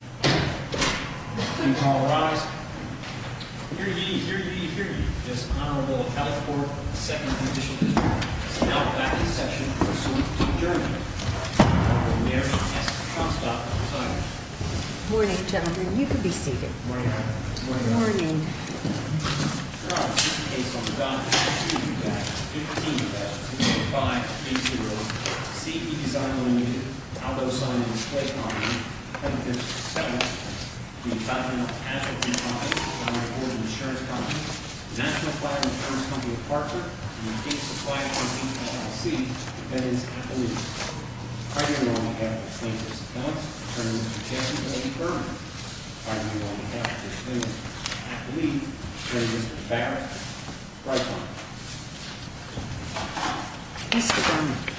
Please call the rise. Hear ye, hear ye, hear ye. This Honorable California Court of Second Judicial District is now back in session for a suit to adjourn. The Honorable Mary S. Tronstad, the presiding judge. Morning, gentlemen. You can be seated. Good morning. Your Honor, this case on the docket is a two-fact, fifteen-fact, two-five, three-zero. C. E. Design Ltd., Aldo Signing and Display Company, 157th. The Continental Casualty Co. is owned by the Board of Insurance Companies. The National Flag and Terms Company of Parker. In the case of Flight 185C, the defendant is at the loose. I do not have the plaintiff's appellant. Attorney Mr. Jeffrey Berman. I do not have the plaintiff's athlete. Attorney Mr. Barrett. Right side. Mr. Berman.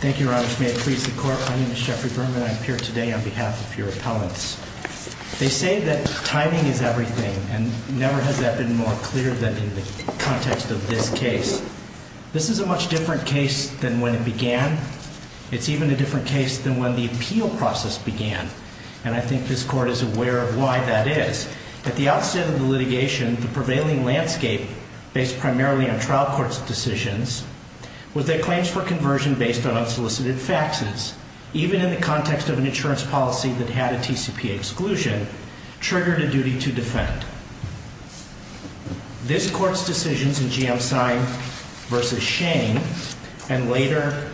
Thank you, Your Honor. May it please the Court. My name is Jeffrey Berman. I'm here today on behalf of your appellants. They say that timing is everything, and never has that been more clear than in the context of this case. This is a much different case than when it began. It's even a different case than when the appeal process began. And I think this Court is aware of why that is. At the outset of the litigation, the prevailing landscape, based primarily on trial court's decisions, was that claims for conversion based on unsolicited faxes, even in the context of an insurance policy that had a TCPA exclusion, triggered a duty to defend. This Court's decisions in GM Sign v. Shane, and later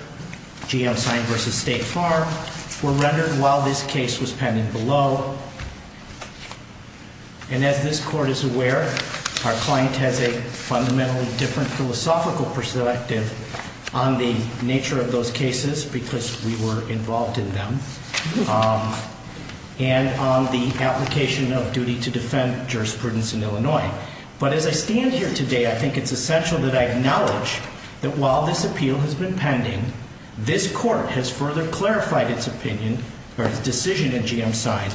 GM Sign v. State Farm, were rendered while this case was pending below. And as this Court is aware, our client has a fundamentally different philosophical perspective on the nature of those cases, because we were involved in them, and on the application of duty to defend jurisprudence in Illinois. But as I stand here today, I think it's essential that I acknowledge that while this appeal has been pending, this Court has further clarified its decision in GM Sign.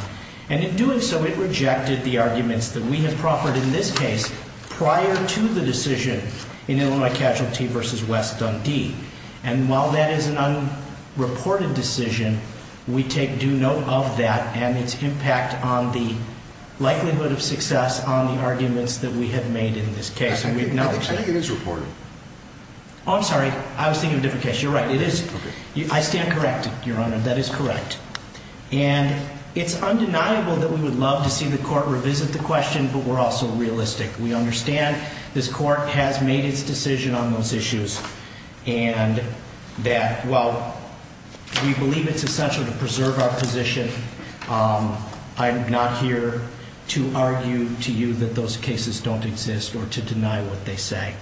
And in doing so, it rejected the arguments that we have proffered in this case prior to the decision in Illinois Casualty v. West Dundee. And while that is an unreported decision, we take due note of that and its impact on the likelihood of success on the arguments that we have made in this case. I think it is reported. Oh, I'm sorry. I was thinking of a different case. You're right. It is. I stand corrected, Your Honor. That is correct. And it's undeniable that we would love to see the Court revisit the question, but we're also realistic. We understand this Court has made its decision on those issues, and that while we believe it's essential to preserve our position, I'm not here to argue to you that those cases don't exist or to deny what they say.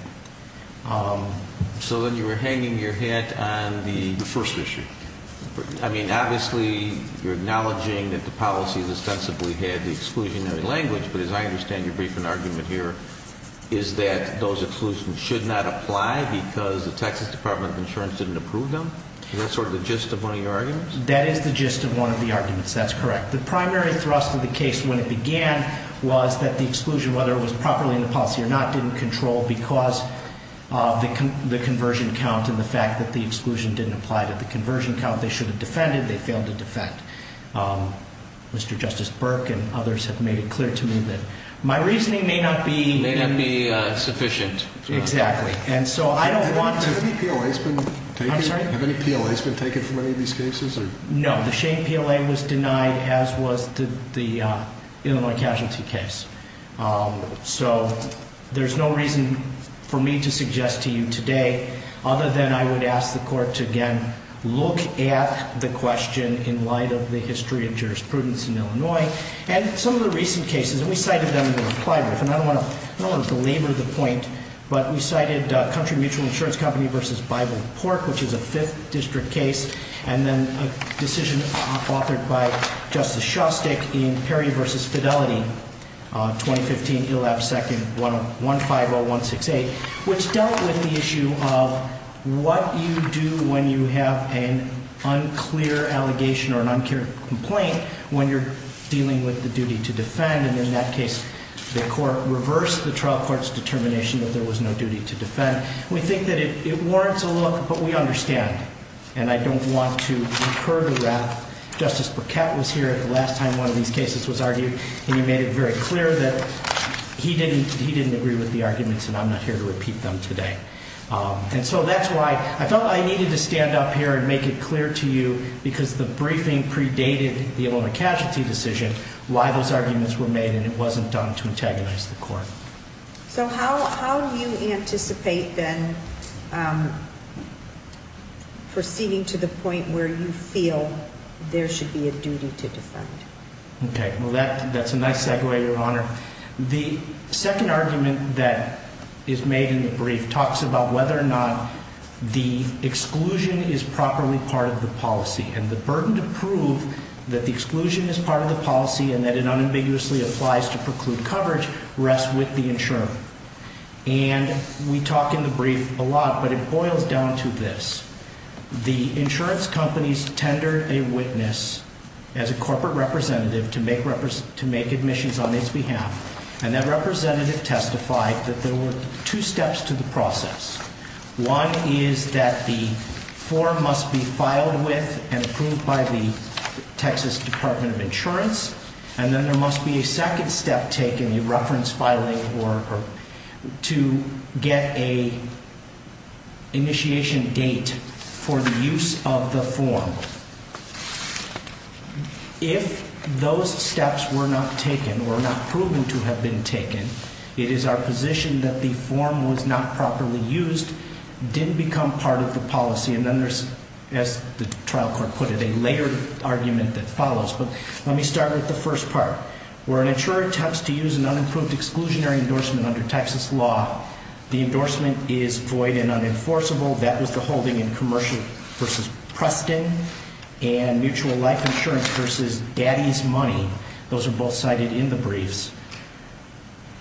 So then you were hanging your hat on the first issue. I mean, obviously, you're acknowledging that the policy has ostensibly had the exclusionary language, but as I understand your briefing argument here, is that those exclusions should not apply because the Texas Department of Insurance didn't approve them? Is that sort of the gist of one of your arguments? That is the gist of one of the arguments. That's correct. The primary thrust of the case when it began was that the exclusion, whether it was properly in the policy or not, didn't control because of the conversion count and the fact that the exclusion didn't apply to the conversion count. They should have defended. They failed to defend. Mr. Justice Burke and others have made it clear to me that my reasoning may not be... May not be sufficient. Exactly. And so I don't want to... Have any PLAs been taken? I'm sorry? Have any PLAs been taken from any of these cases? No. The Shane PLA was denied, as was the Illinois Casualty case. So there's no reason for me to suggest to you today, other than I would ask the Court to again look at the question in light of the history of jurisprudence in Illinois and some of the recent cases. And we cited them in the reply brief. And I don't want to belabor the point, but we cited Country Mutual Insurance Company v. Bible and Pork, which is a Fifth District case, and then a decision authored by Justice Shostak in Perry v. Fidelity, 2015, 11-2-150168, which dealt with the issue of what you do when you have an unclear allegation or an unclear complaint when you're dealing with the duty to defend. And in that case, the Court reversed the trial court's determination that there was no duty to defend. We think that it warrants a look, but we understand. And I don't want to incur the wrath. Justice Burkett was here at the last time one of these cases was argued, and he made it very clear that he didn't agree with the arguments and I'm not here to repeat them today. And so that's why I felt I needed to stand up here and make it clear to you because the briefing predated the Illinois casualty decision, why those arguments were made and it wasn't done to antagonize the Court. So how do you anticipate then proceeding to the point where you feel there should be a duty to defend? Okay, well, that's a nice segue, Your Honor. The second argument that is made in the brief talks about whether or not the exclusion is properly part of the policy. And the burden to prove that the exclusion is part of the policy and that it unambiguously applies to preclude coverage rests with the insurer. And we talk in the brief a lot, but it boils down to this. The insurance companies tender a witness as a corporate representative to make admissions on its behalf. And that representative testified that there were two steps to the process. One is that the form must be filed with and approved by the Texas Department of Insurance. And then there must be a second step taken, a reference filing, to get an initiation date for the use of the form. If those steps were not taken or not proven to have been taken, it is our position that the form was not properly used, didn't become part of the policy, and then there's, as the trial court put it, a layered argument that follows. But let me start with the first part. Where an insurer attempts to use an unapproved exclusionary endorsement under Texas law, the endorsement is void and unenforceable. That was the holding in Commercial v. Preston and Mutual Life Insurance v. Daddy's Money. Those are both cited in the briefs.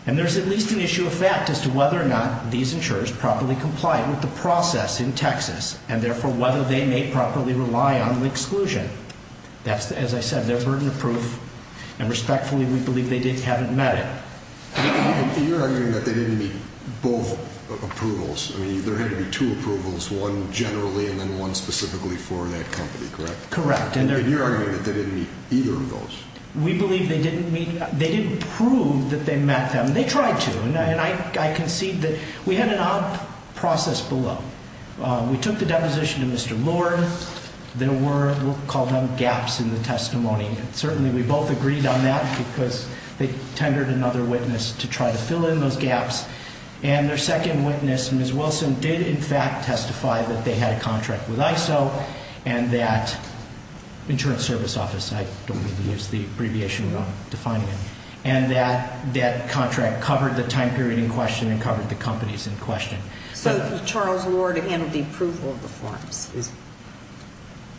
And there's at least an issue of fact as to whether or not these insurers properly complied with the process in Texas, and therefore whether they may properly rely on the exclusion. As I said, they're burden-proof, and respectfully, we believe they haven't met it. You're arguing that they didn't meet both approvals. I mean, there had to be two approvals, one generally and then one specifically for that company, correct? Correct. And you're arguing that they didn't meet either of those. We believe they didn't meet. They didn't prove that they met them. They tried to, and I concede that we had an odd process below. We took the deposition to Mr. Lord. There were, we'll call them, gaps in the testimony. Certainly we both agreed on that because they tendered another witness to try to fill in those gaps, and their second witness, Ms. Wilson, did in fact testify that they had a contract with ISO and that insurance service office, I don't mean to use the abbreviation wrong, defining it, and that that contract covered the time period in question and covered the companies in question. So Charles Lord handled the approval of the forms is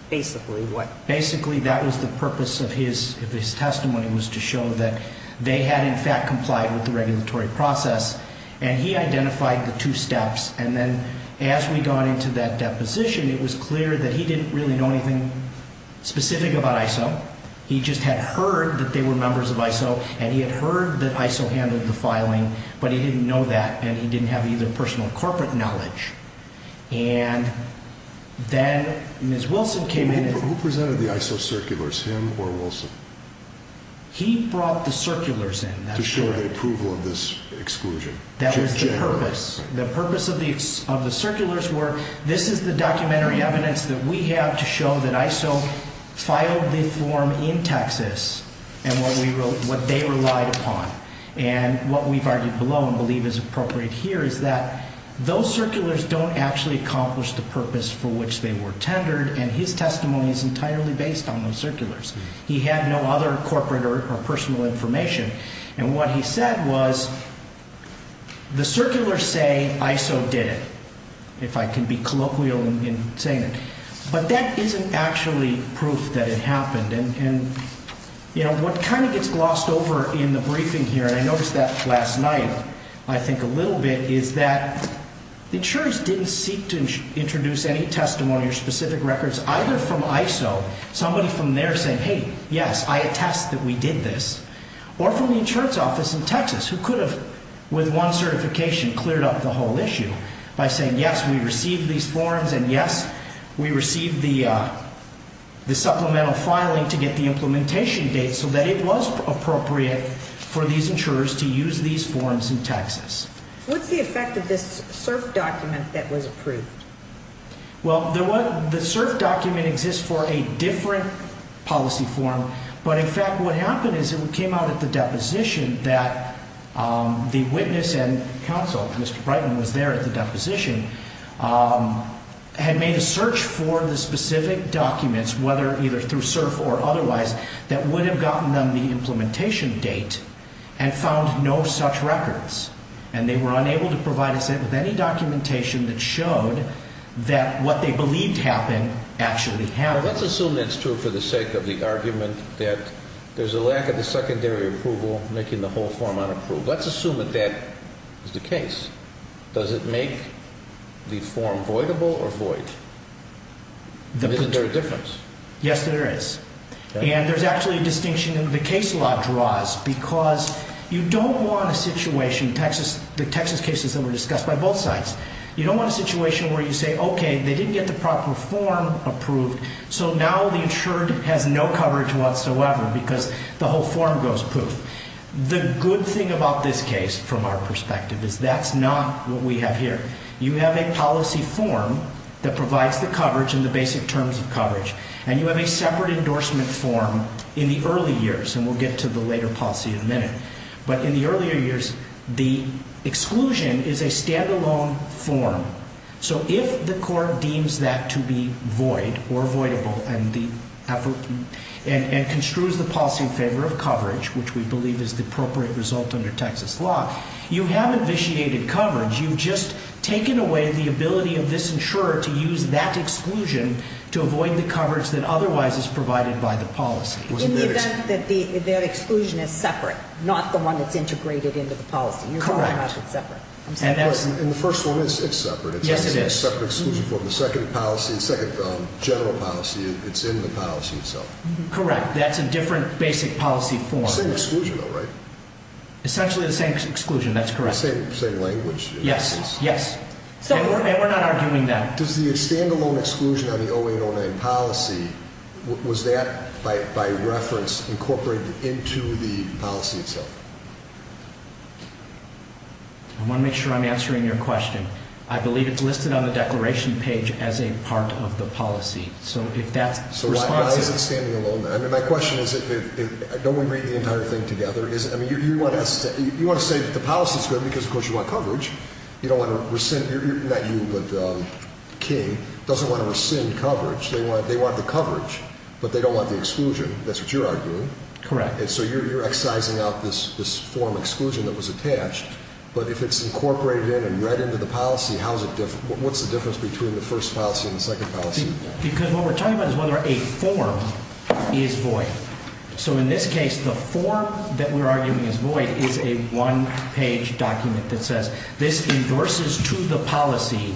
basically what? Basically that was the purpose of his testimony was to show that they had, in fact, complied with the regulatory process, and he identified the two steps. And then as we got into that deposition, it was clear that he didn't really know anything specific about ISO. He just had heard that they were members of ISO, and he had heard that ISO handled the filing, but he didn't know that, and he didn't have either personal or corporate knowledge. And then Ms. Wilson came in. Who presented the ISO circulars, him or Wilson? He brought the circulars in. To show the approval of this exclusion. That was the purpose. The purpose of the circulars were this is the documentary evidence that we have to show that ISO filed the form in Texas and what they relied upon. And what we've argued below and believe is appropriate here is that those circulars don't actually accomplish the purpose for which they were tendered, and his testimony is entirely based on those circulars. He had no other corporate or personal information, and what he said was the circulars say ISO did it, if I can be colloquial in saying it. But that isn't actually proof that it happened. And, you know, what kind of gets glossed over in the briefing here, and I noticed that last night I think a little bit, is that the insurers didn't seek to introduce any testimony or specific records either from ISO, somebody from there saying, hey, yes, I attest that we did this, or from the insurance office in Texas who could have with one certification cleared up the whole issue by saying, yes, we received these forms, and yes, we received the supplemental filing to get the implementation date so that it was appropriate for these insurers to use these forms in Texas. What's the effect of this CERF document that was approved? Well, the CERF document exists for a different policy form, but in fact what happened is it came out at the deposition that the witness and counsel, Mr. Brightman was there at the deposition, had made a search for the specific documents, whether either through CERF or otherwise, that would have gotten them the implementation date and found no such records. And they were unable to provide us with any documentation that showed that what they believed happened actually happened. Now, let's assume that's true for the sake of the argument that there's a lack of the secondary approval making the whole form unapproved. Let's assume that that is the case. Does it make the form voidable or void? Isn't there a difference? Yes, there is. And there's actually a distinction in the case law draws because you don't want a situation, the Texas cases that were discussed by both sides, you don't want a situation where you say, okay, they didn't get the proper form approved, so now the insured has no coverage whatsoever because the whole form goes poof. The good thing about this case from our perspective is that's not what we have here. You have a policy form that provides the coverage and the basic terms of coverage, and you have a separate endorsement form in the early years, and we'll get to the later policy in a minute. But in the earlier years, the exclusion is a stand-alone form. So if the court deems that to be void or voidable and construes the policy in favor of coverage, which we believe is the appropriate result under Texas law, you have initiated coverage. You've just taken away the ability of this insurer to use that exclusion to avoid the coverage that otherwise is provided by the policy. In the event that their exclusion is separate, not the one that's integrated into the policy. Correct. You're talking about it separate. In the first one, it's separate. Yes, it is. It's a separate exclusion form. The second policy, the second general policy, it's in the policy itself. Correct. That's a different basic policy form. Same exclusion, though, right? Essentially the same exclusion. That's correct. Same language. Yes. Yes. And we're not arguing that. Does the stand-alone exclusion on the 0809 policy, was that by reference incorporated into the policy itself? I want to make sure I'm answering your question. I believe it's listed on the declaration page as a part of the policy. So if that's the response. So why is it standing alone? I mean, my question is, don't we read the entire thing together? I mean, you want to say that the policy is good because, of course, you want coverage. You don't want to rescind, not you, but King, doesn't want to rescind coverage. They want the coverage, but they don't want the exclusion. That's what you're arguing. Correct. So you're excising out this form exclusion that was attached, but if it's incorporated in and read into the policy, what's the difference between the first policy and the second policy? Because what we're talking about is whether a form is void. So in this case, the form that we're arguing is void is a one-page document that says this endorses to the policy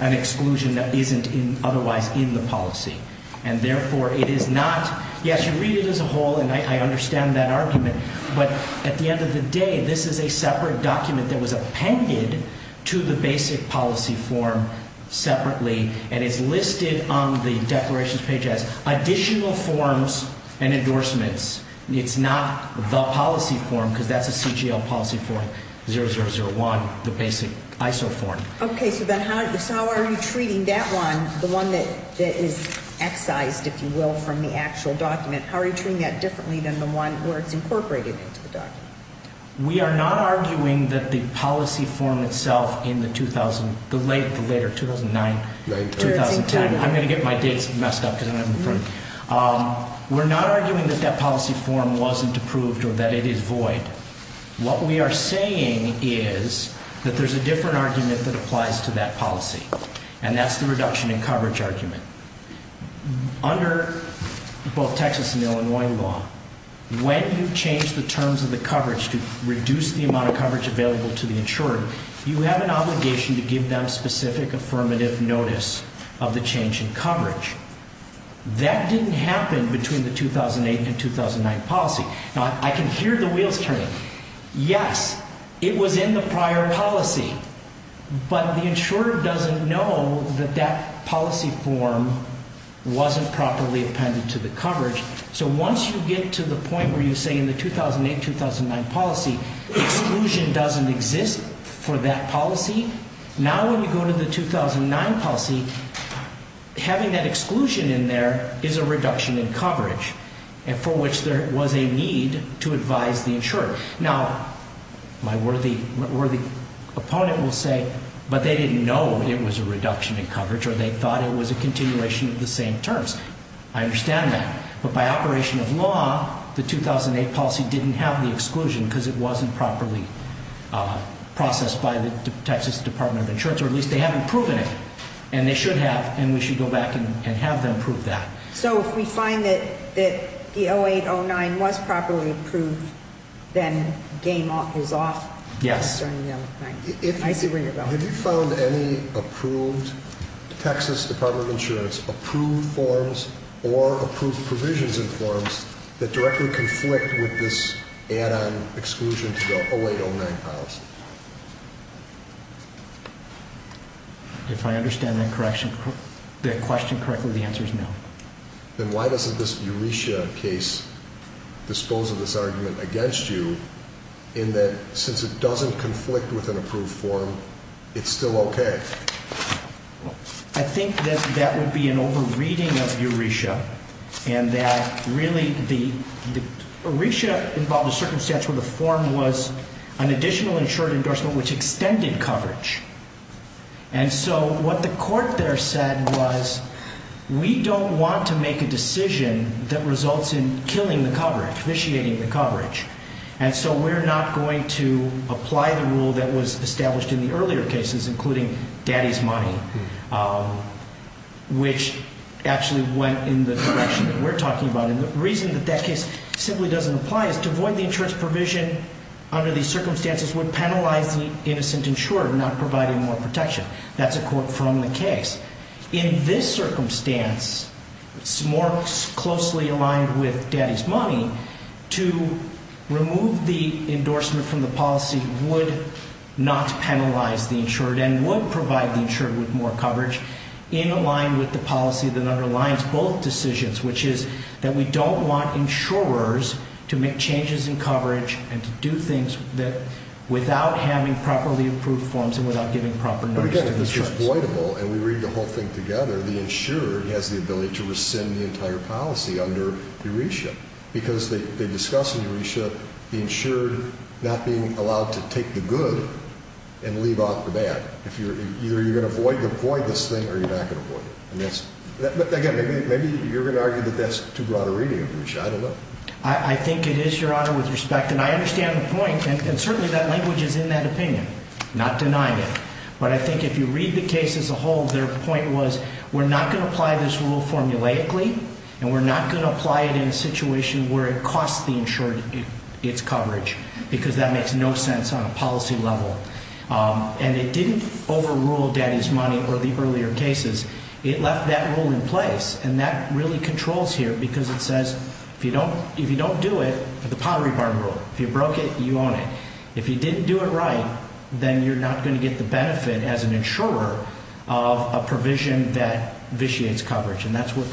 an exclusion that isn't otherwise in the policy. And therefore, it is not. Yes, you read it as a whole, and I understand that argument. But at the end of the day, this is a separate document that was appended to the basic policy form separately, and it's listed on the declarations page as additional forms and endorsements. It's not the policy form because that's a CGL policy form, 0001, the basic ISO form. Okay. So then how are you treating that one, the one that is excised, if you will, from the actual document? How are you treating that differently than the one where it's incorporated into the document? We are not arguing that the policy form itself in the late 2009, 2010. I'm going to get my dates messed up because I don't have them in front. We're not arguing that that policy form wasn't approved or that it is void. What we are saying is that there's a different argument that applies to that policy, and that's the reduction in coverage argument. Under both Texas and Illinois law, when you change the terms of the coverage to reduce the amount of coverage available to the insurer, you have an obligation to give them specific affirmative notice of the change in coverage. That didn't happen between the 2008 and 2009 policy. Now, I can hear the wheels turning. Yes, it was in the prior policy, but the insurer doesn't know that that policy form wasn't properly appended to the coverage. So once you get to the point where you say in the 2008, 2009 policy, exclusion doesn't exist for that policy, now when you go to the 2009 policy, having that exclusion in there is a reduction in coverage for which there was a need to advise the insurer. Now, my worthy opponent will say, but they didn't know it was a reduction in coverage or they thought it was a continuation of the same terms. I understand that, but by operation of law, the 2008 policy didn't have the exclusion because it wasn't properly processed by the Texas Department of Insurance, or at least they haven't proven it, and they should have, and we should go back and have them prove that. So if we find that the 2008, 2009 was properly approved, then game is off? Yes. I see a ring of bells. Have you found any approved Texas Department of Insurance approved forms or approved provisions in forms that directly conflict with this add-on exclusion to the 2008, 2009 policy? If I understand that question correctly, the answer is no. Then why doesn't this EURESIA case dispose of this argument against you in that since it doesn't conflict with an approved form, it's still okay? I think that that would be an over-reading of EURESIA, and that really EURESIA involved a circumstance where the form was an additional insured endorsement which extended coverage. And so what the court there said was we don't want to make a decision that results in killing the coverage, officiating the coverage, and so we're not going to apply the rule that was established in the earlier cases, including Daddy's Money, which actually went in the direction that we're talking about. And the reason that that case simply doesn't apply is to avoid the insurance provision under these circumstances would penalize the innocent insurer of not providing more protection. That's a quote from the case. In this circumstance, it's more closely aligned with Daddy's Money. To remove the endorsement from the policy would not penalize the insured and would provide the insured with more coverage, in line with the policy that underlines both decisions, which is that we don't want insurers to make changes in coverage and to do things without having properly approved forms and without giving proper notice. But again, if this was voidable and we read the whole thing together, the insurer has the ability to rescind the entire policy under EURESIA because they discuss in EURESIA the insured not being allowed to take the good and leave off the bad. Either you're going to avoid this thing or you're not going to avoid it. But again, maybe you're going to argue that that's too broad a reading of EURESIA. I don't know. I think it is, Your Honor, with respect. And I understand the point, and certainly that language is in that opinion, not denying it. But I think if you read the case as a whole, their point was, we're not going to apply this rule formulaically, and we're not going to apply it in a situation where it costs the insured its coverage because that makes no sense on a policy level. And it didn't overrule daddy's money or the earlier cases. It left that rule in place, and that really controls here because it says, if you don't do it, the Pottery Barn rule, if you broke it, you own it. If you didn't do it right, then you're not going to get the benefit as an insurer of a provision that vitiates coverage, and that's what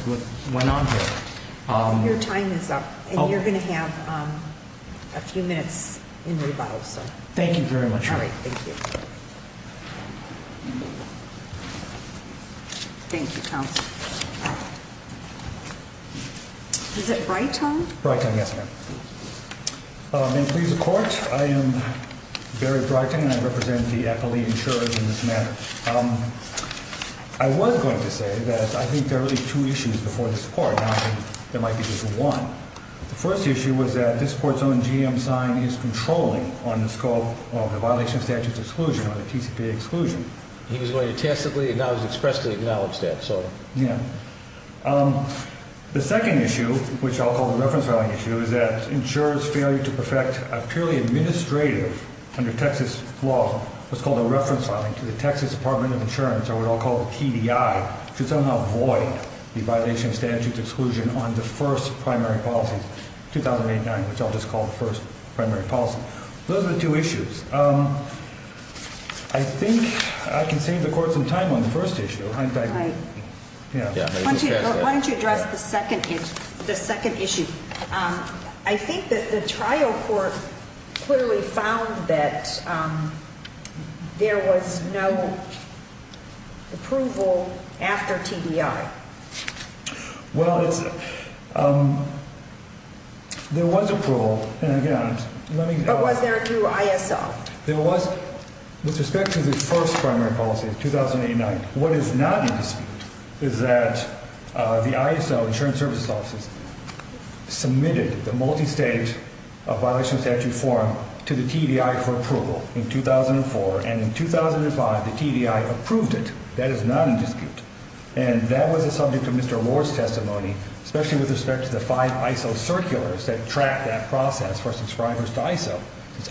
went on here. Your time is up, and you're going to have a few minutes in rebuttal. Thank you very much, Your Honor. All right. Thank you. Thank you, counsel. Is it Breitong? Breitong, yes, ma'am. May it please the Court, I am Barry Breitong, and I represent the appellee insurers in this matter. I was going to say that I think there are really two issues before this Court, not that there might be just one. The first issue was that this Court's own GM sign is controlling on the scope of the violation of statutes exclusion or the TCPA exclusion. He was going to tacitly and expressly acknowledge that, so. Yeah. The second issue, which I'll call the reference filing issue, is that insurers failing to perfect a purely administrative, under Texas law, what's called a reference filing to the Texas Department of Insurance, or what I'll call the TDI, should somehow void the violation of statutes exclusion on the first primary policy, 2008-9, which I'll just call the first primary policy. Those are the two issues. I think I can save the Court some time on the first issue. Why don't you address the second issue? I think that the trial court clearly found that there was no approval after TDI. Well, there was approval. But was there through ISO? With respect to the first primary policy, 2008-9, what is not in dispute is that the ISO, Insurance Services Office, submitted the multi-state violation of statute form to the TDI for approval in 2004, and in 2005 the TDI approved it. That is not in dispute. And that was a subject of Mr. Lord's testimony, especially with respect to the five ISO circulars that track that process for subscribers to ISO.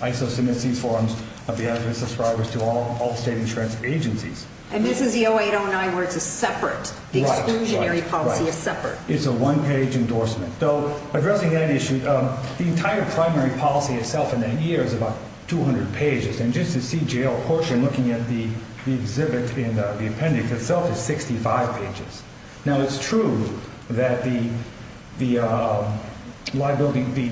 ISO submits these forms of the address of subscribers to all state insurance agencies. And this is the 08-09 where it's separate. The exclusionary policy is separate. It's a one-page endorsement. So addressing that issue, the entire primary policy itself in that year is about 200 pages, and just the CGL portion looking at the exhibit in the appendix itself is 65 pages. Now, it's true that the liability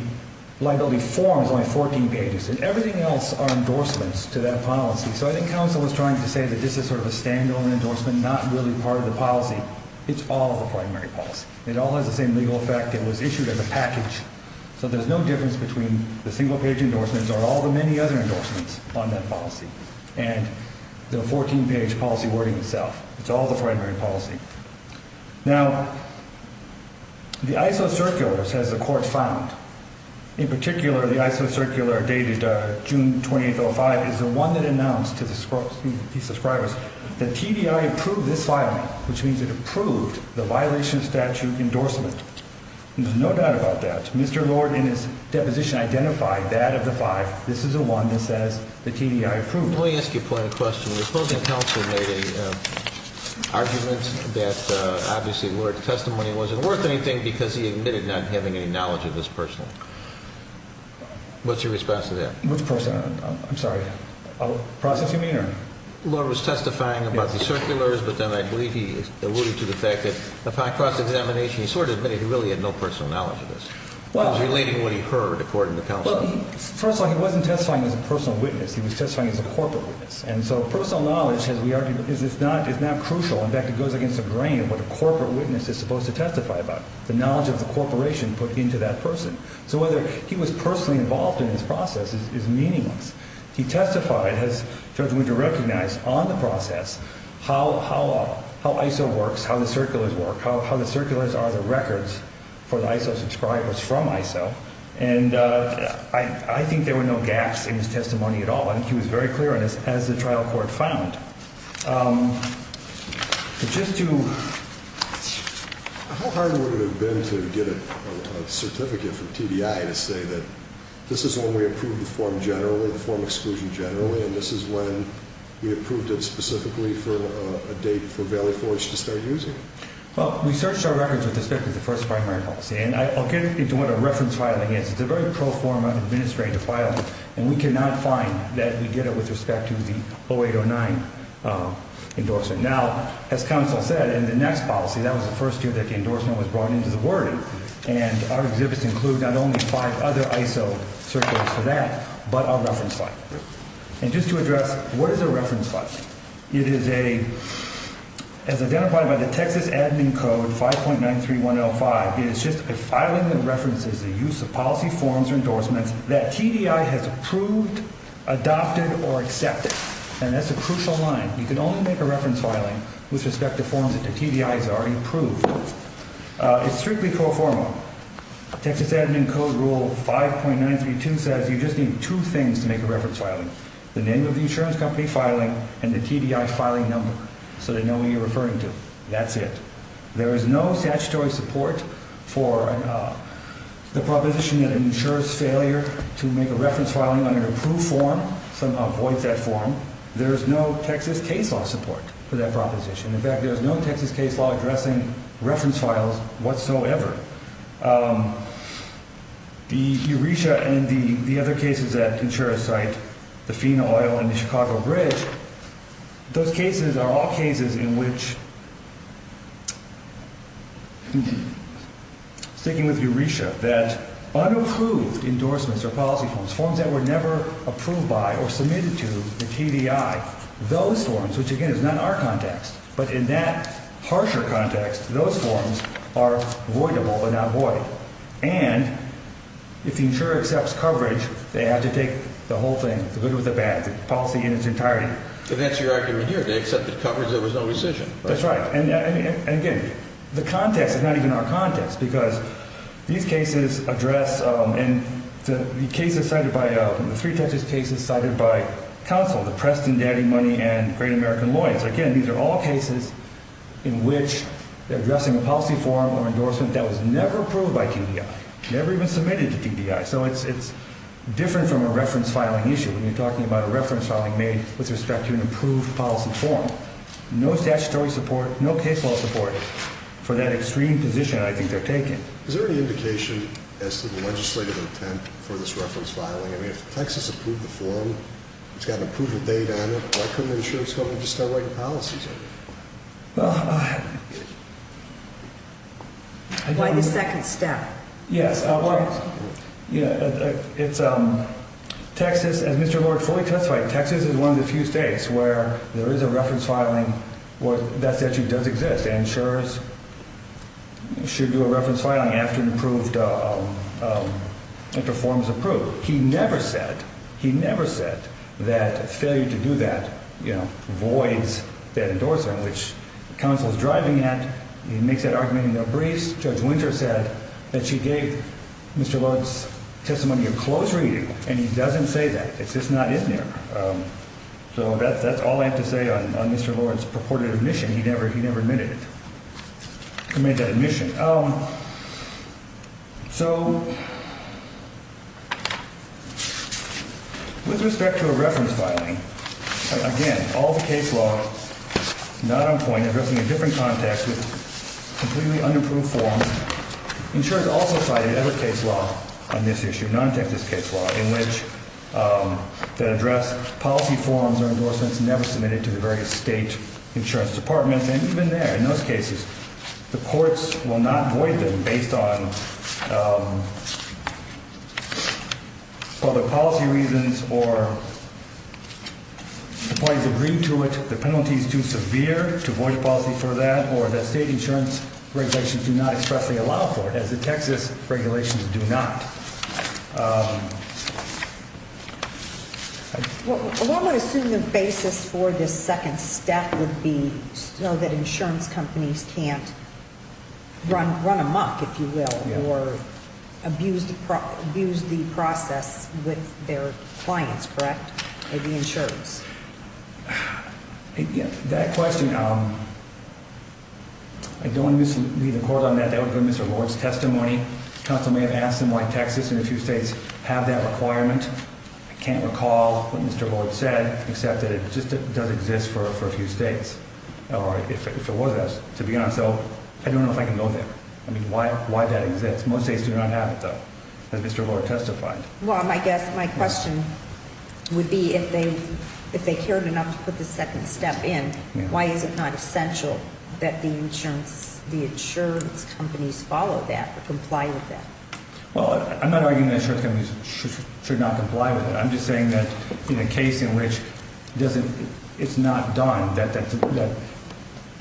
form is only 14 pages, and everything else are endorsements to that policy. So I think counsel was trying to say that this is sort of a standalone endorsement, not really part of the policy. It's all the primary policy. It all has the same legal effect. It was issued as a package. So there's no difference between the single-page endorsements or all the many other endorsements on that policy, and the 14-page policy wording itself. It's all the primary policy. Now, the ISO circulars, as the court found, in particular the ISO circular dated June 28, 2005, is the one that announced to the subscribers that TDI approved this filing, which means it approved the violation of statute endorsement. There's no doubt about that. Mr. Lord, in his deposition, identified that of the five. This is the one that says the TDI approved. Let me ask you quite a question. The opposing counsel made an argument that, obviously, the Lord's testimony wasn't worth anything because he admitted not having any knowledge of this personally. What's your response to that? Which person? I'm sorry. The process you mean? The Lord was testifying about the circulars, but then I believe he alluded to the fact that upon cross-examination, he sort of admitted he really had no personal knowledge of this. He was relating what he heard, according to counsel. Well, first of all, he wasn't testifying as a personal witness. He was testifying as a corporate witness. And so personal knowledge, as we argued, is not crucial. In fact, it goes against the grain of what a corporate witness is supposed to testify about, the knowledge of the corporation put into that person. So whether he was personally involved in this process is meaningless. He testified, as far as we can recognize, on the process, how ISO works, how the circulars work, how the circulars are the records for the ISO subscribers from ISO. And I think there were no gaps in his testimony at all. He was very clear on this, as the trial court found. How hard would it have been to get a certificate from TBI to say that this is when we approved the form generally, the form exclusion generally, and this is when we approved it specifically for a date for Valley Forge to start using? Well, we searched our records with respect to the first primary policy, and I'll get into what a reference filing is. It's a very pro forma administrative filing, and we cannot find that we get it with respect to the 0809 endorsement. Now, as counsel said, in the next policy, that was the first year that the endorsement was brought into the wording, and our exhibits include not only five other ISO certificates for that, but a reference file. And just to address, what is a reference file? It is a, as identified by the Texas Admin Code, 5.93105, it is just a filing that references the use of policy forms or endorsements that TBI has approved, adopted, or accepted. And that's a crucial line. You can only make a reference filing with respect to forms that the TBI has already approved. It's strictly pro forma. Texas Admin Code Rule 5.932 says you just need two things to make a reference filing, the name of the insurance company filing and the TBI filing number, so they know who you're referring to. That's it. There is no statutory support for the proposition that an insurer's failure to make a reference filing on an approved form somehow voids that form. There is no Texas case law support for that proposition. In fact, there is no Texas case law addressing reference files whatsoever. The ERISA and the other cases that insurers cite, the FINA Oil and the Chicago Bridge, those cases are all cases in which, sticking with ERISA, that unapproved endorsements or policy forms, forms that were never approved by or submitted to the TBI, those forms, which again is not in our context, but in that harsher context, those forms are voidable but not void. And if the insurer accepts coverage, they have to take the whole thing, the good with the bad, the policy in its entirety. And that's your argument here. They accepted coverage. There was no rescission. That's right. And again, the context is not even our context because these cases address and the cases cited by the three Texas cases cited by counsel, the Preston Daddy Money and Great American Lawyers, again, these are all cases in which they're addressing a policy form or endorsement that was never approved by TBI, never even submitted to TBI. So it's different from a reference filing issue when you're talking about a reference filing made with respect to an approved policy form. No statutory support, no case law support for that extreme position I think they're taking. Is there any indication as to the legislative intent for this reference filing? I mean, if Texas approved the form, it's got an approval date on it, why couldn't the insurance company just start writing policies on it? Well, I don't know. Why the second step? Yes, well, Texas, as Mr. Lord fully testified, Texas is one of the few states where there is a reference filing where that statute does exist. Insurance should do a reference filing after the form is approved. He never said that failure to do that voids that endorsement, which counsel is driving at. He makes that argument in a brief. Judge Winter said that she gave Mr. Lord's testimony a close reading, and he doesn't say that. It's just not in there. So that's all I have to say on Mr. Lord's purported admission. He never admitted it. He made that admission. So with respect to a reference filing, again, all the case law, not on point, addressing a different context with completely unapproved forms. Insurance also cited other case law on this issue, non-Texas case law, in which they address policy forms or endorsements never submitted to the various state insurance departments. And even there, in those cases, the courts will not void them based on whether policy reasons or the parties agreed to it, the penalties too severe to void policy for that, or the state insurance regulations do not expressly allow for it, as the Texas regulations do not. One would assume the basis for this second step would be so that insurance companies can't run amok, if you will, or abuse the process with their clients, correct? With the insurance. That question, I don't want to be the court on that. That would be Mr. Lord's testimony. Counsel may have asked him why Texas and a few states have that requirement. I can't recall what Mr. Lord said, except that it just does exist for a few states, or if it was, to be honest. So I don't know if I can go there. I mean, why that exists. Most states do not have it, though, as Mr. Lord testified. Well, I guess my question would be, if they cared enough to put the second step in, why is it not essential that the insurance companies follow that or comply with that? Well, I'm not arguing that insurance companies should not comply with it. I'm just saying that in a case in which it's not done, that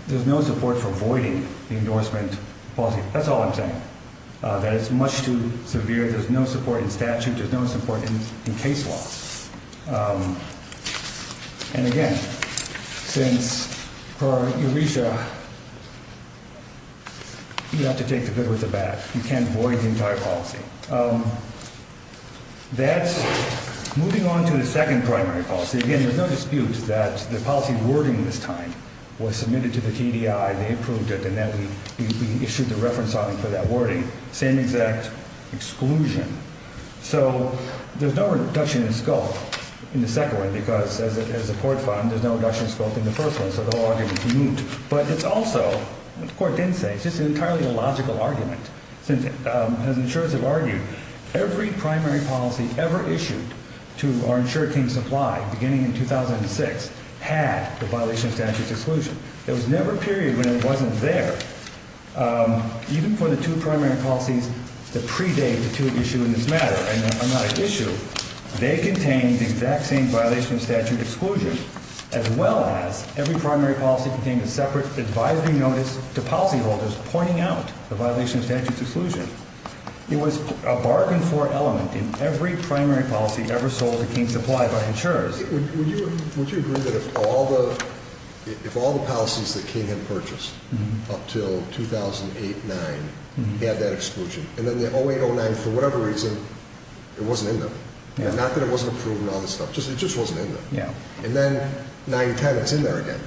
there's no support for voiding the endorsement policy. That's all I'm saying, that it's much too severe. There's no support in statute. There's no support in case law. And, again, since per EURESA, you have to take the good with the bad. You can't void the entire policy. That's moving on to the second primary policy. And, again, there's no dispute that the policy wording this time was submitted to the TDI. They approved it, and then we issued the reference on it for that wording. Same exact exclusion. So there's no reduction in scope in the second one because, as a court found, there's no reduction in scope in the first one, so the whole argument is moot. But it's also, the court didn't say, it's just entirely a logical argument, since, as insurers have argued, every primary policy ever issued to our insured team supply, beginning in 2006, had the violation of statute exclusion. There was never a period when it wasn't there. Even for the two primary policies that predate the two that issue in this matter, and are not at issue, they contain the exact same violation of statute exclusion, as well as every primary policy contained a separate advisory notice to policyholders pointing out the violation of statute exclusion. It was a bargain for element in every primary policy ever sold to King Supply by insurers. Would you agree that if all the policies that King had purchased up until 2008-9 had that exclusion, and then the 08-09, for whatever reason, it wasn't in there? Not that it wasn't approved and all this stuff, it just wasn't in there. And then 9-10, it's in there again.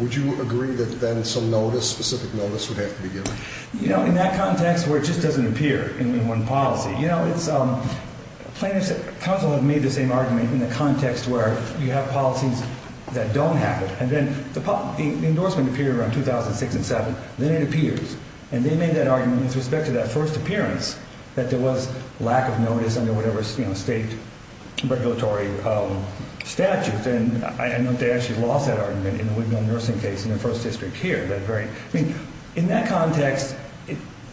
Would you agree that then some notice, specific notice, would have to be given? You know, in that context where it just doesn't appear in one policy. You know, counsel have made the same argument in the context where you have policies that don't have it. And then the endorsement appeared around 2006-07, then it appears. And they made that argument with respect to that first appearance, that there was lack of notice under whatever state regulatory statute. And I don't know if they actually lost that argument in the Woodville nursing case in their first district here. In that context,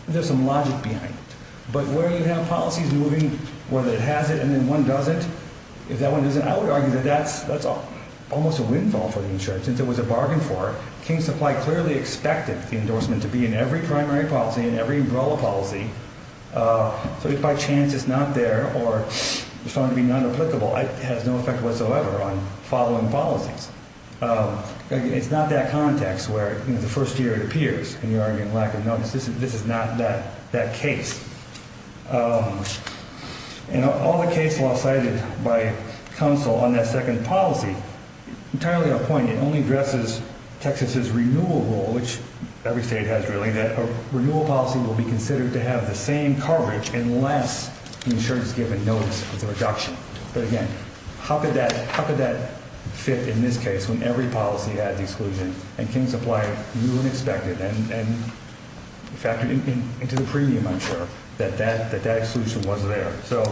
there's some logic behind it. But where you have policies moving, whether it has it and then one doesn't, if that one doesn't, I would argue that that's almost a windfall for the insurer, since it was a bargain for it. King Supply clearly expected the endorsement to be in every primary policy and every umbrella policy. So if by chance it's not there or found to be non-applicable, it has no effect whatsoever on following policies. It's not that context where the first year it appears and you're arguing lack of notice. This is not that case. And all the case law cited by counsel on that second policy, entirely on point, it only addresses Texas's renewal rule, which every state has really, that a renewal policy will be considered to have the same coverage unless the insurer's given notice of the reduction. But again, how could that fit in this case when every policy had the exclusion? And King Supply knew and expected and factored into the premium, I'm sure, that that exclusion was there. So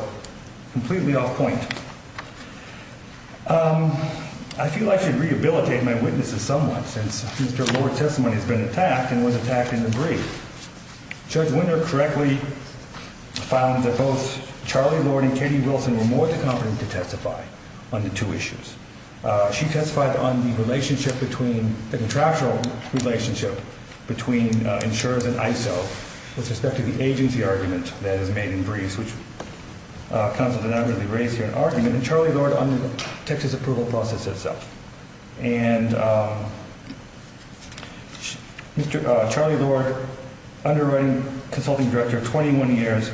completely off point. I feel I should rehabilitate my witnesses somewhat since Mr. Lord's testimony has been attacked and was attacked in the brief. Judge Winter correctly found that both Charlie Lord and Katie Wilson were more than competent to testify on the two issues. She testified on the relationship between, the contractual relationship between insurers and ISO with respect to the agency argument that is made in briefs, which counsel did not really raise here in argument, and Charlie Lord on the Texas approval process itself. And Charlie Lord, underwriting consulting director, 21 years.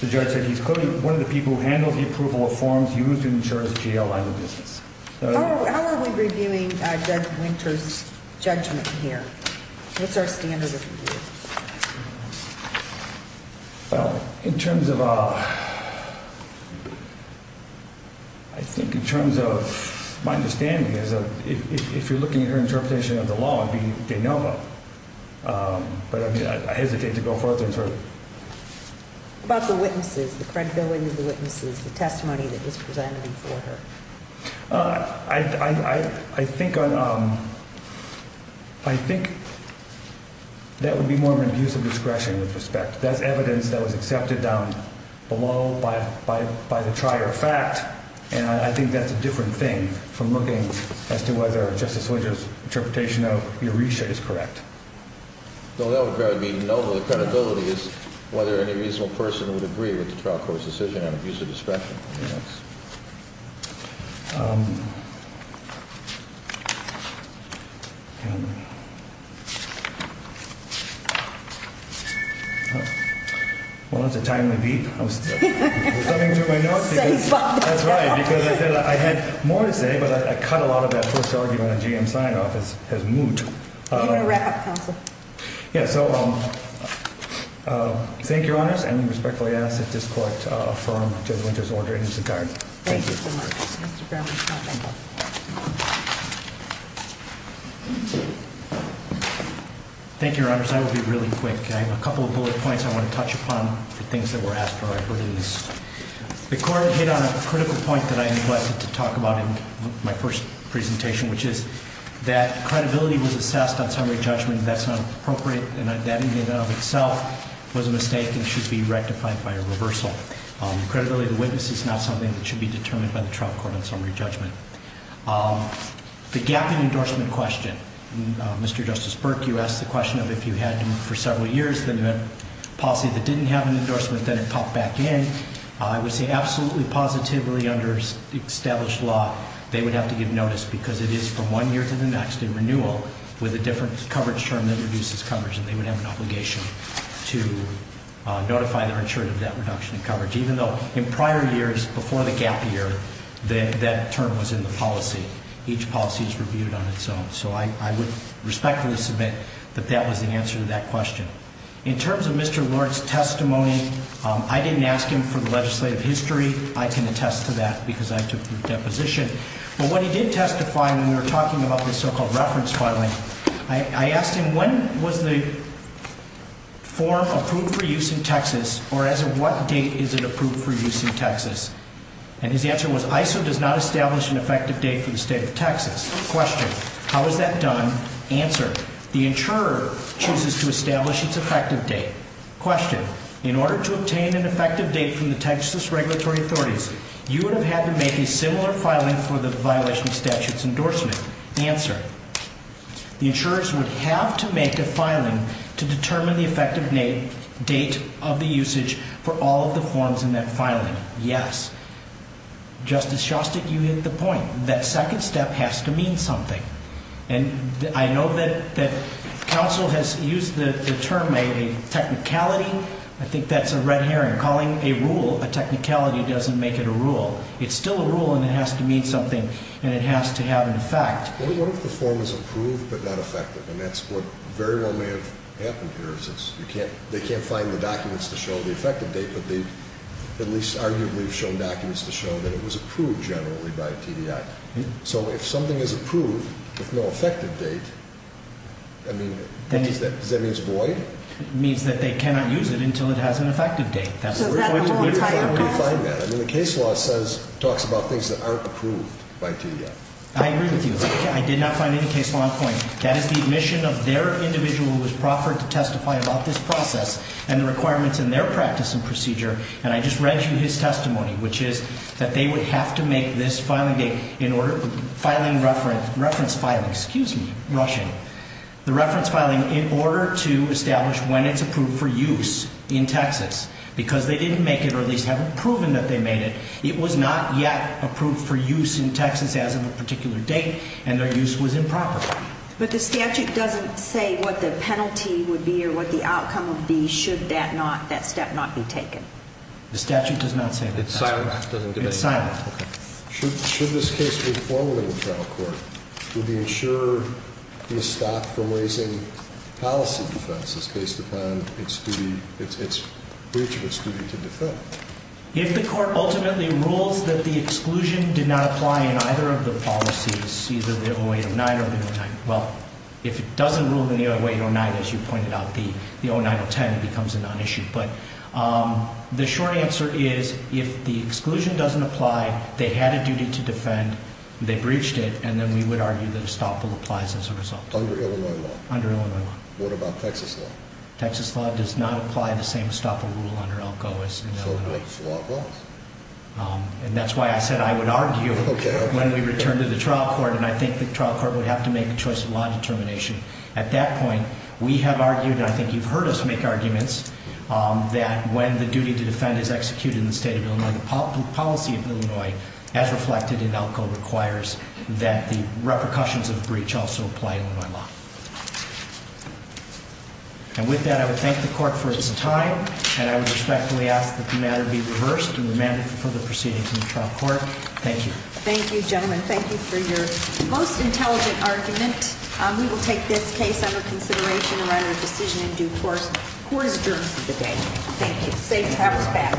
The judge said he's clearly one of the people who handled the approval of forms used in insurers' GAO line of business. How are we reviewing Judge Winter's judgment here? What's our standard of review? Well, in terms of, I think in terms of my understanding is if you're looking at her interpretation of the law, it would be de novo. But I mean, I hesitate to go further. About the witnesses, the credibility of the witnesses, the testimony that was presented before her. I think I think that would be more of an abuse of discretion with respect. That's evidence that was accepted down below by by by the trier fact. And I think that's a different thing from looking as to whether Justice Winter's interpretation of Euresia is correct. So that would be no credibility is whether any reasonable person would agree with the trial court's decision on abuse of discretion. Well, that's a timely beat. I was coming through my notes. That's right, because I said I had more to say, but I cut a lot of that first argument. I'm going to wrap up counsel. Yeah. So thank you, Your Honor. And respectfully ask that this court from Judge Winter's order into the card. Thank you. Thank you, Your Honor. I will be really quick. I have a couple of bullet points I want to touch upon for things that were asked for. The court hit on a critical point that I neglected to talk about in my first presentation, which is that credibility was assessed on summary judgment. That's not appropriate. And that in and of itself was a mistake and should be rectified by a reversal. Credibility of the witness is not something that should be determined by the trial court on summary judgment. The gap in endorsement question. Mr. Justice Burke, you asked the question of if you had for several years the policy that didn't have an endorsement, then it popped back in. I would say absolutely positively under established law, they would have to give notice because it is from one year to the next in renewal with a different coverage term that reduces coverage. And they would have an obligation to notify their insurer of that reduction in coverage, even though in prior years before the gap year, that term was in the policy. Each policy is reviewed on its own. So I would respectfully submit that that was the answer to that question. In terms of Mr. Lord's testimony, I didn't ask him for the legislative history. I can attest to that because I took that position. But what he did testify when we were talking about the so-called reference filing, I asked him when was the form approved for use in Texas or as of what date is it approved for use in Texas? And his answer was ISO does not establish an effective date for the state of Texas. Question, how is that done? Answer, the insurer chooses to establish its effective date. Question, in order to obtain an effective date from the Texas regulatory authorities, you would have had to make a similar filing for the violation of statute's endorsement. Answer, the insurers would have to make a filing to determine the effective date of the usage for all of the forms in that filing. Yes. Justice Shostak, you hit the point. That second step has to mean something. And I know that counsel has used the term technicality. I think that's a red herring. Calling a rule a technicality doesn't make it a rule. It's still a rule and it has to mean something and it has to have an effect. What if the form is approved but not effective? And that's what very well may have happened here. They can't find the documents to show the effective date, but they at least arguably have shown documents to show that it was approved generally by TDI. So if something is approved with no effective date, does that mean it's void? It means that they cannot use it until it has an effective date. So is that the whole entire clause? The case law talks about things that aren't approved by TDI. I agree with you. I did not find any case law in point. That is the admission of their individual who was proffered to testify about this process and the requirements in their practice and procedure. And I just read you his testimony, which is that they would have to make this filing date in order to reference filing. Excuse me. Rushing. The reference filing in order to establish when it's approved for use in Texas. Because they didn't make it or at least haven't proven that they made it. It was not yet approved for use in Texas as of a particular date, and their use was improper. But the statute doesn't say what the penalty would be or what the outcome would be should that not, that step not be taken. The statute does not say that. It's silent. It's silent. Okay. Should this case be formally in trial court, would the insurer be stopped from raising policy defenses based upon its duty, its breach of its duty to defend? If the court ultimately rules that the exclusion did not apply in either of the policies, either the 0809 or the 0909. Well, if it doesn't rule in the 0809, as you pointed out, the 09010 becomes a non-issue. But the short answer is if the exclusion doesn't apply, they had a duty to defend, they breached it, and then we would argue that estoppel applies as a result. Under Illinois law? Under Illinois law. What about Texas law? Texas law does not apply the same estoppel rule under ELCO as in Illinois law. So what? And that's why I said I would argue when we return to the trial court, and I think the trial court would have to make a choice of law determination. At that point, we have argued, and I think you've heard us make arguments, that when the duty to defend is executed in the state of Illinois, the policy of Illinois, as reflected in ELCO, requires that the repercussions of breach also apply in Illinois law. And with that, I would thank the court for its time, and I would respectfully ask that the matter be reversed and remanded for further proceedings in the trial court. Thank you. Thank you, gentlemen. Thank you for your most intelligent argument. We will take this case under consideration and run our decision in due course. Court is adjourned for the day. Thank you. Safe travels back.